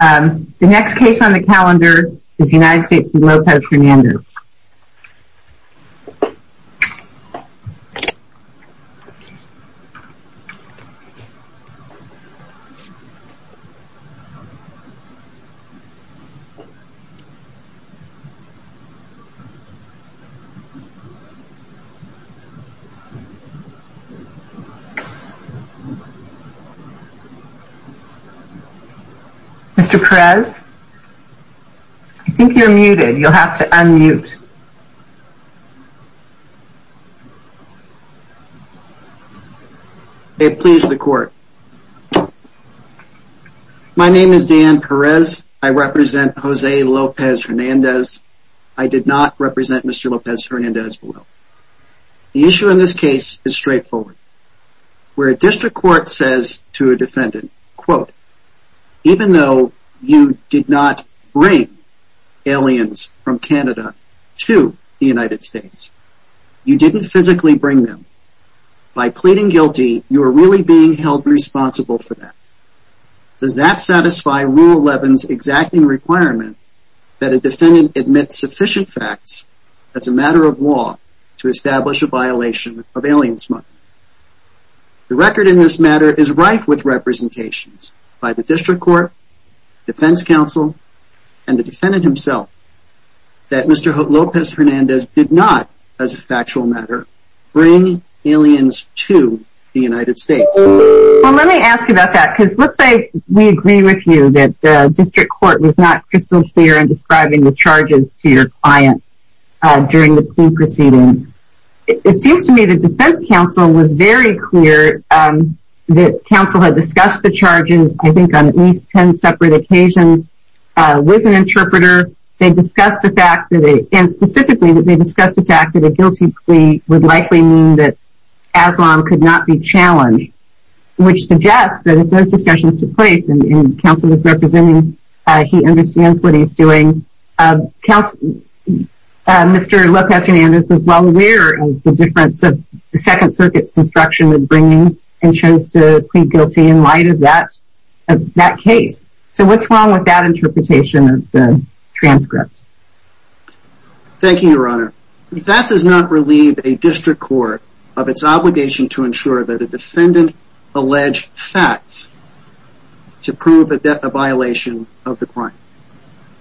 The next case on the calendar is United States v. Lopez-Hernandez. The next case on the calendar is United States v. Lopez-Hernandez. The next case on the calendar is United States v. Lopez-Hernandez. The issue in this case is straightforward. Where a district court says to a defendant, even though you did not bring aliens from Canada to the United States, you didn't physically bring them, by pleading guilty, you are really being held responsible for that. Does that satisfy Rule 11's exacting requirement that a defendant admits sufficient as a matter of law to establish a violation of alien smuggling? The record in this matter is rife with representations by the district court, defense counsel, and the defendant himself, that Mr. Lopez-Hernandez did not, as a factual matter, bring aliens to the United States. Well, let me ask you about that, because let's say we agree with you that the district court was not crystal clear in describing the charges to your client during the proceeding. It seems to me that defense counsel was very clear that counsel had discussed the charges, I think, on at least 10 separate occasions with an interpreter. They discussed the fact that, and specifically that they discussed the fact that a guilty plea would likely mean that Aslam could not be challenged, which suggests that if those discussions took place, and counsel was he understands what he's doing, Mr. Lopez-Hernandez was well aware of the difference of the Second Circuit's construction with bringing and chose to plead guilty in light of that case. So what's wrong with that interpretation of the transcript? Thank you, Your Honor. That does not relieve a district court of its obligation to ensure that a defendant alleged facts to prove a violation of the crime.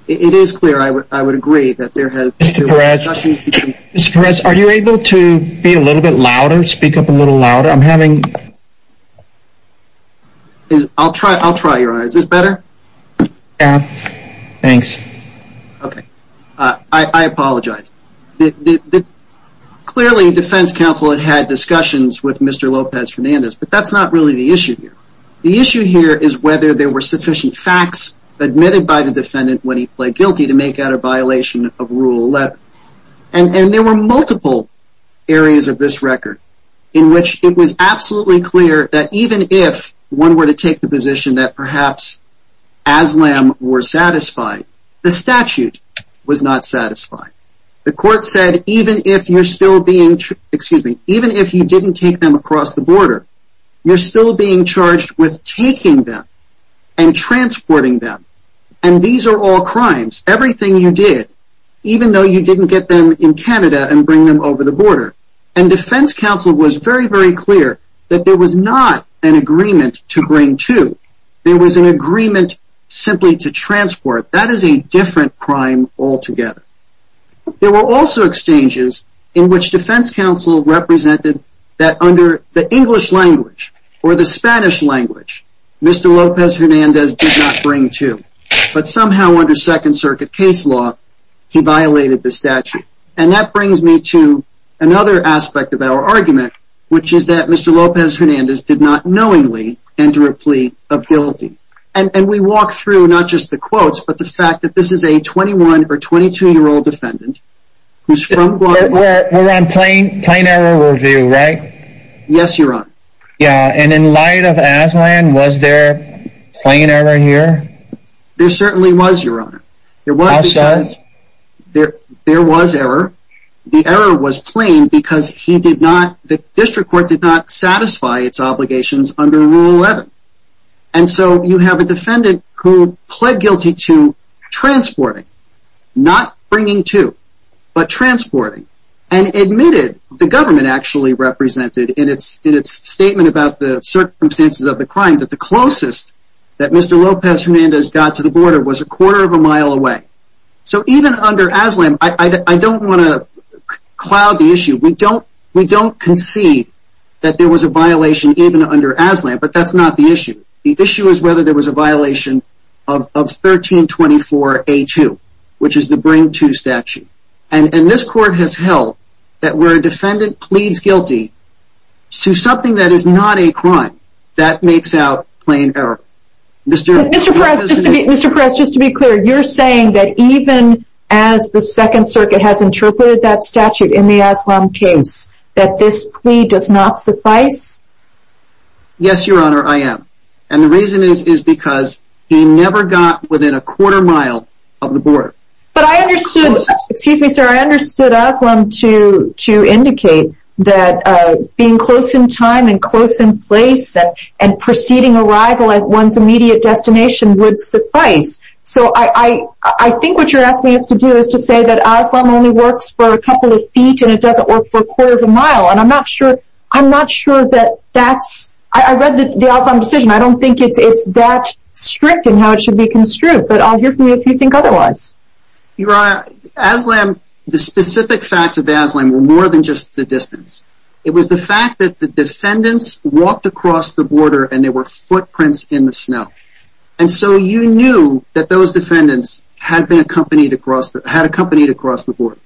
It is clear, I would agree, that there has been... Mr. Perez, are you able to be a little bit louder, speak up a little louder? I'm having... I'll try, I'll try, Your Honor. Is this better? Yeah, thanks. Okay, I apologize. Clearly, defense counsel had had discussions with Mr. Lopez-Hernandez, but that's not really the issue here. The issue here is whether there were sufficient facts admitted by the defendant when he pled guilty to make out a violation of Rule 11. And there were multiple areas of this record in which it was absolutely clear that even if one were to take the position that perhaps Aslam were satisfied, the statute was not satisfied. The court said, even if you're still being... excuse me, even if you didn't take them across the border, you're still being charged with taking them and transporting them. And these are all crimes, everything you did, even though you didn't get them in Canada and bring them over the border. And defense counsel was very, very clear that there was not an agreement to bring to. There was an agreement simply to transport. That is a different crime altogether. There were also exchanges in which defense counsel represented that under the English language or the Spanish language, Mr. Lopez-Hernandez did not bring to. But somehow under Second Circuit case law, he violated the statute. And that brings me to another aspect of our argument, which is that Mr. Lopez-Hernandez did not knowingly enter a plea of guilty. And we walk through not just the quotes, but the fact that this is a 21 or 22 year old defendant who's... We're on plain error review, right? Yes, Your Honor. Yeah. And in light of Aslam, was there plain error here? There certainly was, Your Honor. There was error. The error was plain because he did not, the district court did not satisfy its obligations under Rule 11. And so you have a defendant who pled guilty to transporting, not bringing to, but transporting and admitted the government actually represented in its statement about the circumstances of the crime that the closest that Mr. Lopez-Hernandez got to the border was a quarter of a mile away. So even under Aslam, I don't want to cloud the issue. We don't concede that there was a violation even under Aslam, but that's not the issue. The issue is whether there was a violation of 1324A2, which is the bring to statute. And this court has held that where a defendant pleads guilty to something that is not a crime, that makes out plain error. Mr. Perez, just to be clear, you're saying that even as the second circuit has interpreted that Yes, Your Honor, I am. And the reason is because he never got within a quarter mile of the border. But I understood, excuse me, sir, I understood Aslam to indicate that being close in time and close in place and proceeding arrival at one's immediate destination would suffice. So I think what you're asking us to do is to say that Aslam only works for a couple of feet and it doesn't work for a quarter of a mile. And I'm not sure. I'm not sure that that's I read the Aslam decision. I don't think it's that strict in how it should be construed. But I'll hear from you if you think otherwise. Your Honor, Aslam, the specific facts of Aslam were more than just the distance. It was the fact that the defendants walked across the border and there were footprints in the snow. And so you knew that those defendants had been accompanied across the had accompanied across the border,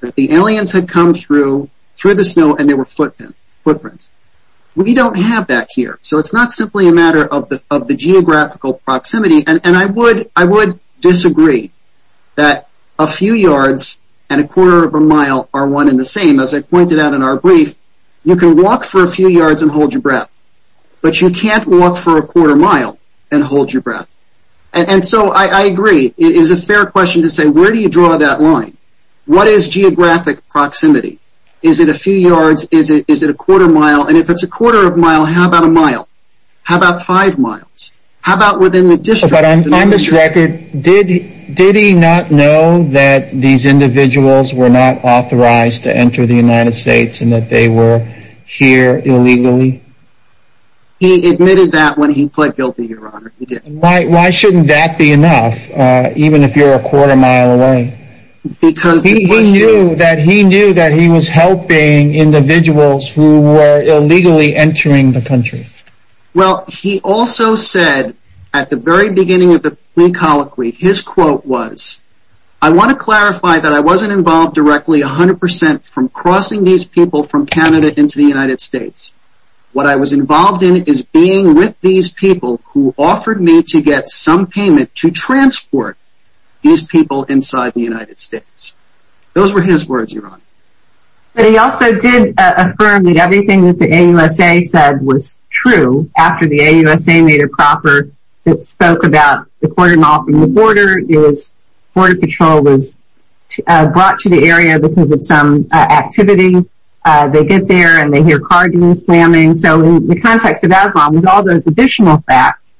that the aliens had come through the snow and there were footprints. We don't have that here. So it's not simply a matter of the geographical proximity. And I would disagree that a few yards and a quarter of a mile are one and the same. As I pointed out in our brief, you can walk for a few yards and hold your breath, but you can't walk for a quarter mile and hold your breath. And so I agree. It is a fair question to say, where do you draw that line? What is geographic proximity? Is it a few yards? Is it a quarter mile? And if it's a quarter of a mile, how about a mile? How about five miles? How about within the district? But on this record, did he not know that these individuals were not authorized to enter the United States and that they were here illegally? He admitted that when he pled guilty, Your Honor. Why shouldn't that be even if you're a quarter mile away? Because he knew that he knew that he was helping individuals who were illegally entering the country. Well, he also said at the very beginning of the plea colloquy, his quote was, I want to clarify that I wasn't involved directly 100% from crossing these people from Canada into the United States. What I was involved in is being with these people who offered me to get some payment to transport these people inside the United States. Those were his words, Your Honor. But he also did affirm that everything that the AUSA said was true after the AUSA made it proper that spoke about the quarter mile from the border is border patrol was brought to the area because of some activity. They get there and they hear so in the context of all those additional facts.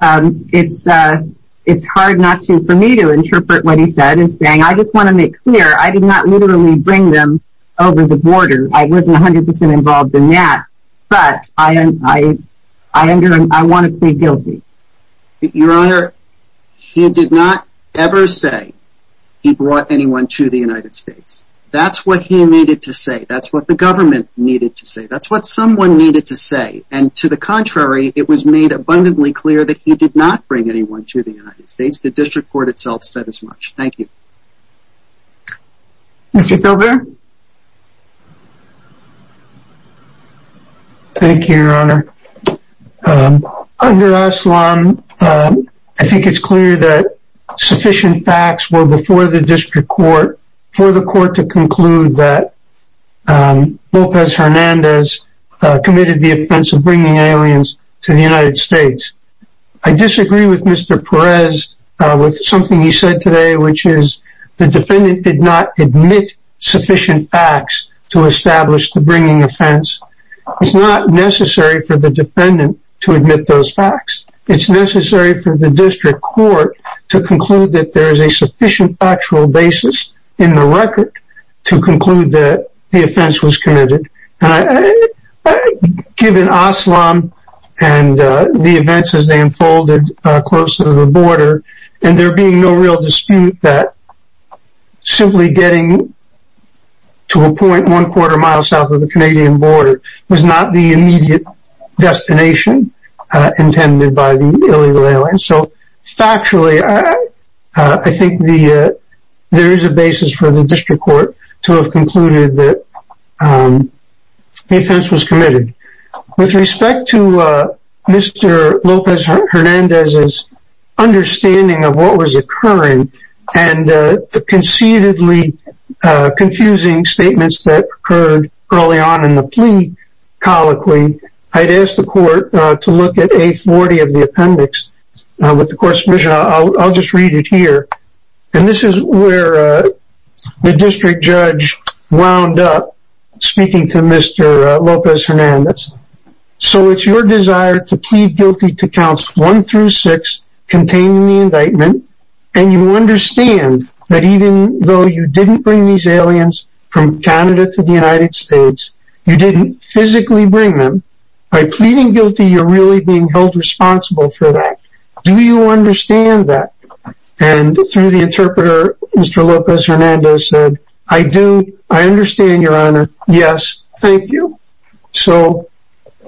It's, it's hard not to for me to interpret what he said and saying, I just want to make clear I did not literally bring them over the border. I wasn't 100% involved in that. But I, I, I under I want to plead guilty. Your Honor. He did not ever say he brought anyone to the United States. That's what he needed to say. That's what the government needed to say. That's what someone needed to say. And to the contrary, it was made abundantly clear that he did not bring anyone to the United States. The district court itself said as much. Thank you. Thank you, Your Honor. Under Aslam, I think it's clear that sufficient facts were before the district court for the Lopez Hernandez committed the offense of bringing aliens to the United States. I disagree with Mr. Perez with something he said today, which is the defendant did not admit sufficient facts to establish the bringing offense. It's not necessary for the defendant to admit those facts. It's necessary for the district court to conclude that there is a and given Aslam and the events as they unfolded close to the border, and there being no real dispute that simply getting to a point one quarter mile south of the Canadian border was not the immediate destination intended by the illegal aliens. So factually, I think the there is a basis for the district court to have concluded that the offense was committed. With respect to Mr. Lopez Hernandez's understanding of what was occurring and the conceitedly confusing statements that occurred early on in the plea colloquy, I'd ask the court to look at A40 of the appendix with the court's permission. I'll just read it and this is where the district judge wound up speaking to Mr. Lopez Hernandez. So it's your desire to plead guilty to counts one through six containing the indictment and you understand that even though you didn't bring these aliens from Canada to the United States, you didn't physically bring them. By pleading guilty, you're really being held responsible for that. Do you understand that? And through the interpreter, Mr. Lopez Hernandez said, I do. I understand your honor. Yes, thank you. So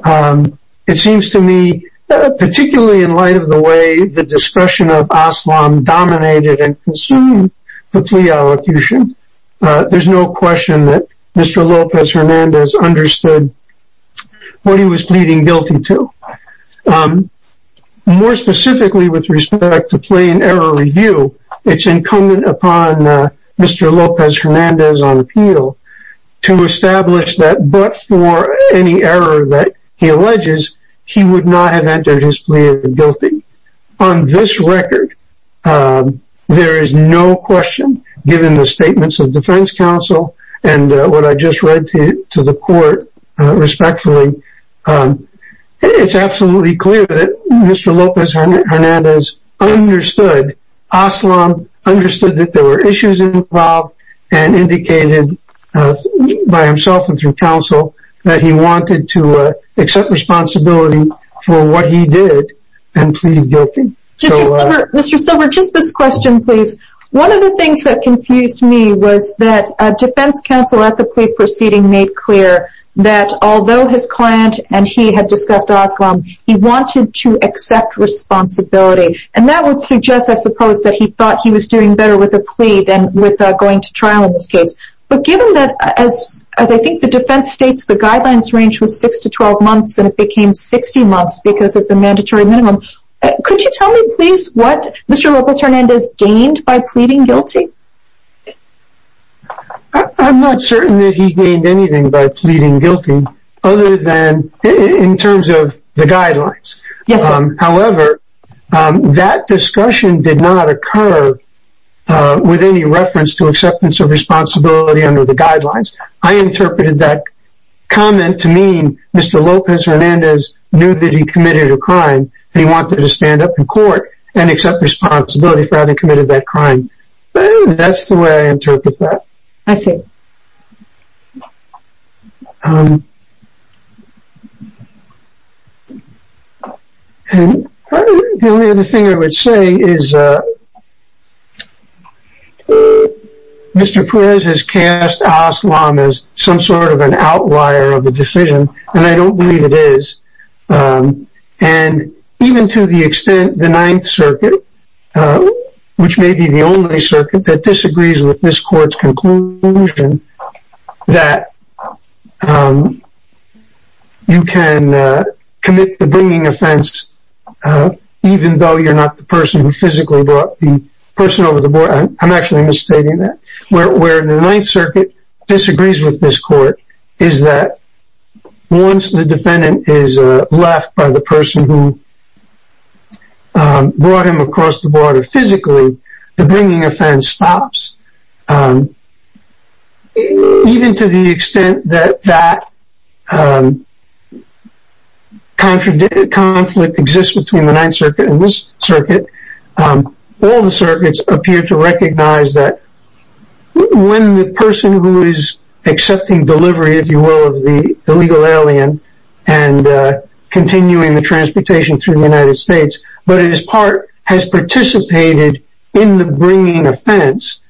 it seems to me, particularly in light of the way the discretion of Aslam dominated and consumed the plea allocution, there's no question that Mr. Lopez Hernandez understood what he was pleading guilty to. More specifically with respect to plain error review, it's incumbent upon Mr. Lopez Hernandez on appeal to establish that but for any error that he alleges, he would not have entered his plea guilty. On this record, there is no question given the statements of defense counsel and what I just read to the court respectfully, it's absolutely clear that Mr. Lopez Hernandez understood Aslam, understood that there were issues involved and indicated by himself and through counsel that he wanted to question. One of the things that confused me was that defense counsel at the plea proceeding made clear that although his client and he had discussed Aslam, he wanted to accept responsibility. And that would suggest, I suppose, that he thought he was doing better with a plea than with going to trial in this case. But given that, as I think the defense states, the guidelines range was 6-12 Mr. Lopez Hernandez gained by pleading guilty? I'm not certain that he gained anything by pleading guilty other than in terms of the guidelines. However, that discussion did not occur with any reference to acceptance of responsibility under the guidelines. I interpreted that comment to mean Mr. Lopez Hernandez knew that he committed a crime and he wanted to stand up in court and accept responsibility for having committed that crime. That's the way I interpret that. The only other thing I would say is Mr. Perez has cast Aslam as some sort of an outlier of the decision and I don't believe it is. And even to the extent the Ninth Circuit, which may be the only circuit that disagrees with this court's conclusion, that you can commit the bringing offense even though you're not the person who physically brought the person over the board. I'm actually misstating that. Where the defendant is left by the person who brought him across the border physically, the bringing offense stops. Even to the extent that that conflict exists between the Ninth Circuit and this circuit, all the circuits appear to recognize that when the person who is accepting delivery, if you will, of the illegal alien and continuing the transportation through the United States, but his part has participated in the bringing offense,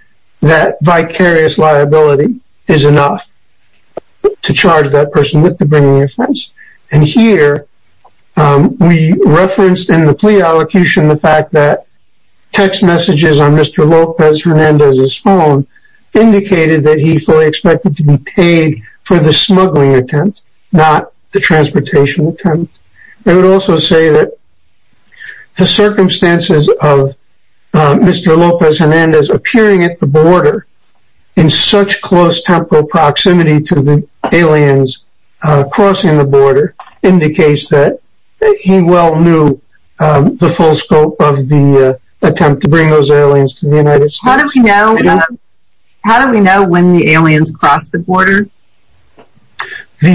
that vicarious liability is enough to charge that person with the bringing offense. And here we referenced in the plea allocation the fact that text messages on Mr. Lopez Hernandez's phone indicated that he fully expected to be paid for the smuggling attempt, not the transportation attempt. They would also say that the circumstances of Mr. Lopez Hernandez appearing at the border in such close temporal proximity to the aliens crossing the border indicates that he well knew the full scope of the attempt to bring those The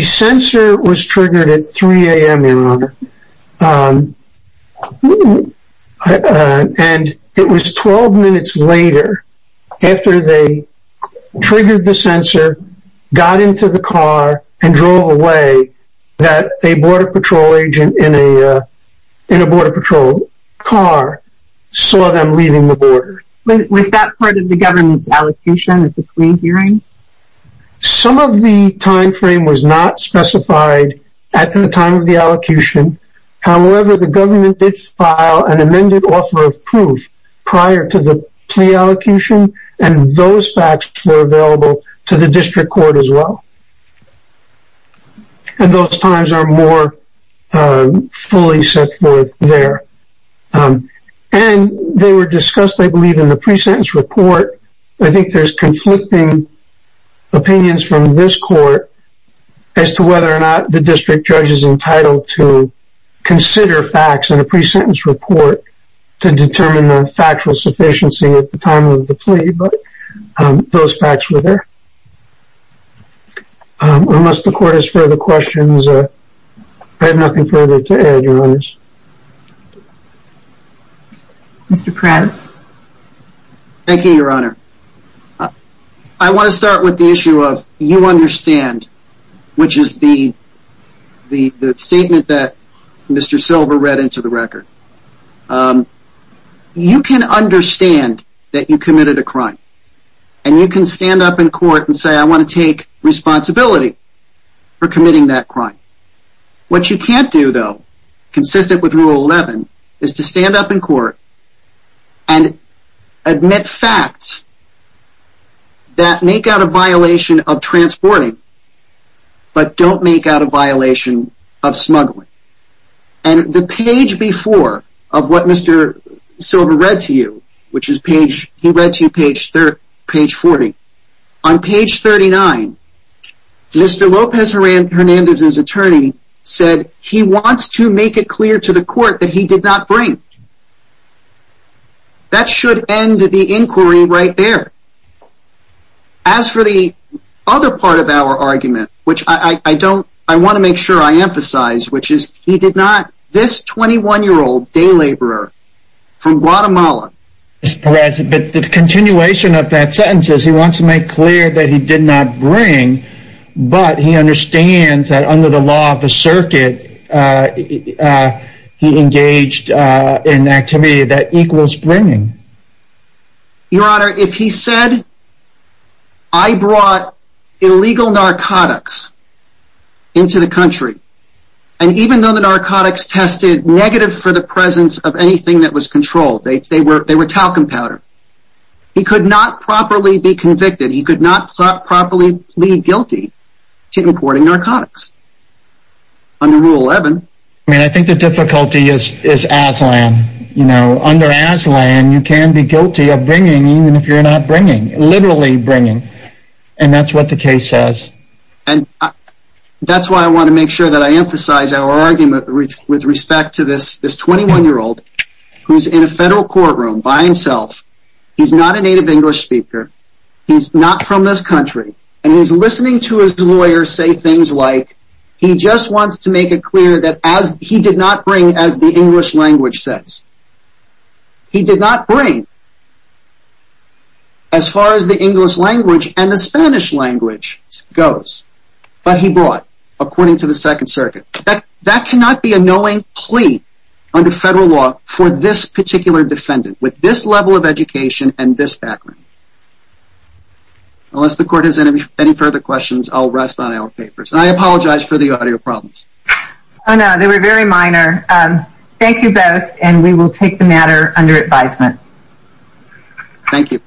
censor was triggered at 3 a.m. in order. And it was 12 minutes later after they triggered the sensor, got into the car, and drove away that a border patrol agent in a border patrol car saw them leaving the border. Was that part of the government's allocation at the plea hearing? Some of the time frame was not specified at the time of the allocation. However, the government did file an amended offer of proof prior to the plea allocation, and those facts were available to the district court as well. And those times are more fully set forth there. And they were opinions from this court as to whether or not the district judge is entitled to consider facts in a pre-sentence report to determine the factual sufficiency at the time of the plea, but those facts were there. Unless the court has further questions, I have nothing further to add, Your Honors. Mr. Prez? Thank you, Your Honor. I want to start with the issue of you understand, which is the statement that Mr. Silver read into the record. You can understand that you committed a crime, and you can stand up in court and say, I want to take responsibility for committing that crime. What you can't do, though, consistent with Rule 11, is to stand up in court and admit facts that make out a violation of transporting, but don't make out a violation of smuggling. And the page before of what Mr. Silver read to you, which is page 40, on page 39, Mr. Lopez Hernandez's attorney said he wants to make it clear to the court that he did not bring. That should end the inquiry right there. As for the other part of our argument, which I don't, I want to make sure I emphasize, which is he did not, this 21-year-old day laborer from Guatemala. Mr. Prez, the continuation of that sentence is he wants to make clear that he did not bring, but he understands that under the law of the circuit, he engaged in activity that equals bringing. Your Honor, if he said, I brought illegal narcotics into the country, and even though the narcotics tested negative for the presence of anything that was controlled, they were talcum powder, he could not properly be convicted. He could not properly plead guilty to importing narcotics. Under Rule 11. I mean, I think the difficulty is Aslan. Under Aslan, you can be guilty of bringing even if you're not bringing, literally bringing. And that's what the case says. And that's why I want to make sure that I emphasize our argument with respect to this 21-year-old who's in a federal courtroom by himself. He's not a native English speaker. He's not from this country. And he's listening to his lawyer say things like, he just wants to make it clear that he did not bring as the English language says. He did not bring as far as the English language and the Spanish language goes. But he brought, according to the Second Circuit. That cannot be a knowing plea under federal law for this particular defendant with this level of education and this background. Unless the court has any further questions, I'll rest on our papers. And I apologize for the audio problems. Oh, no, they were very minor. Thank you both. And we will take the matter under advisement. Thank you.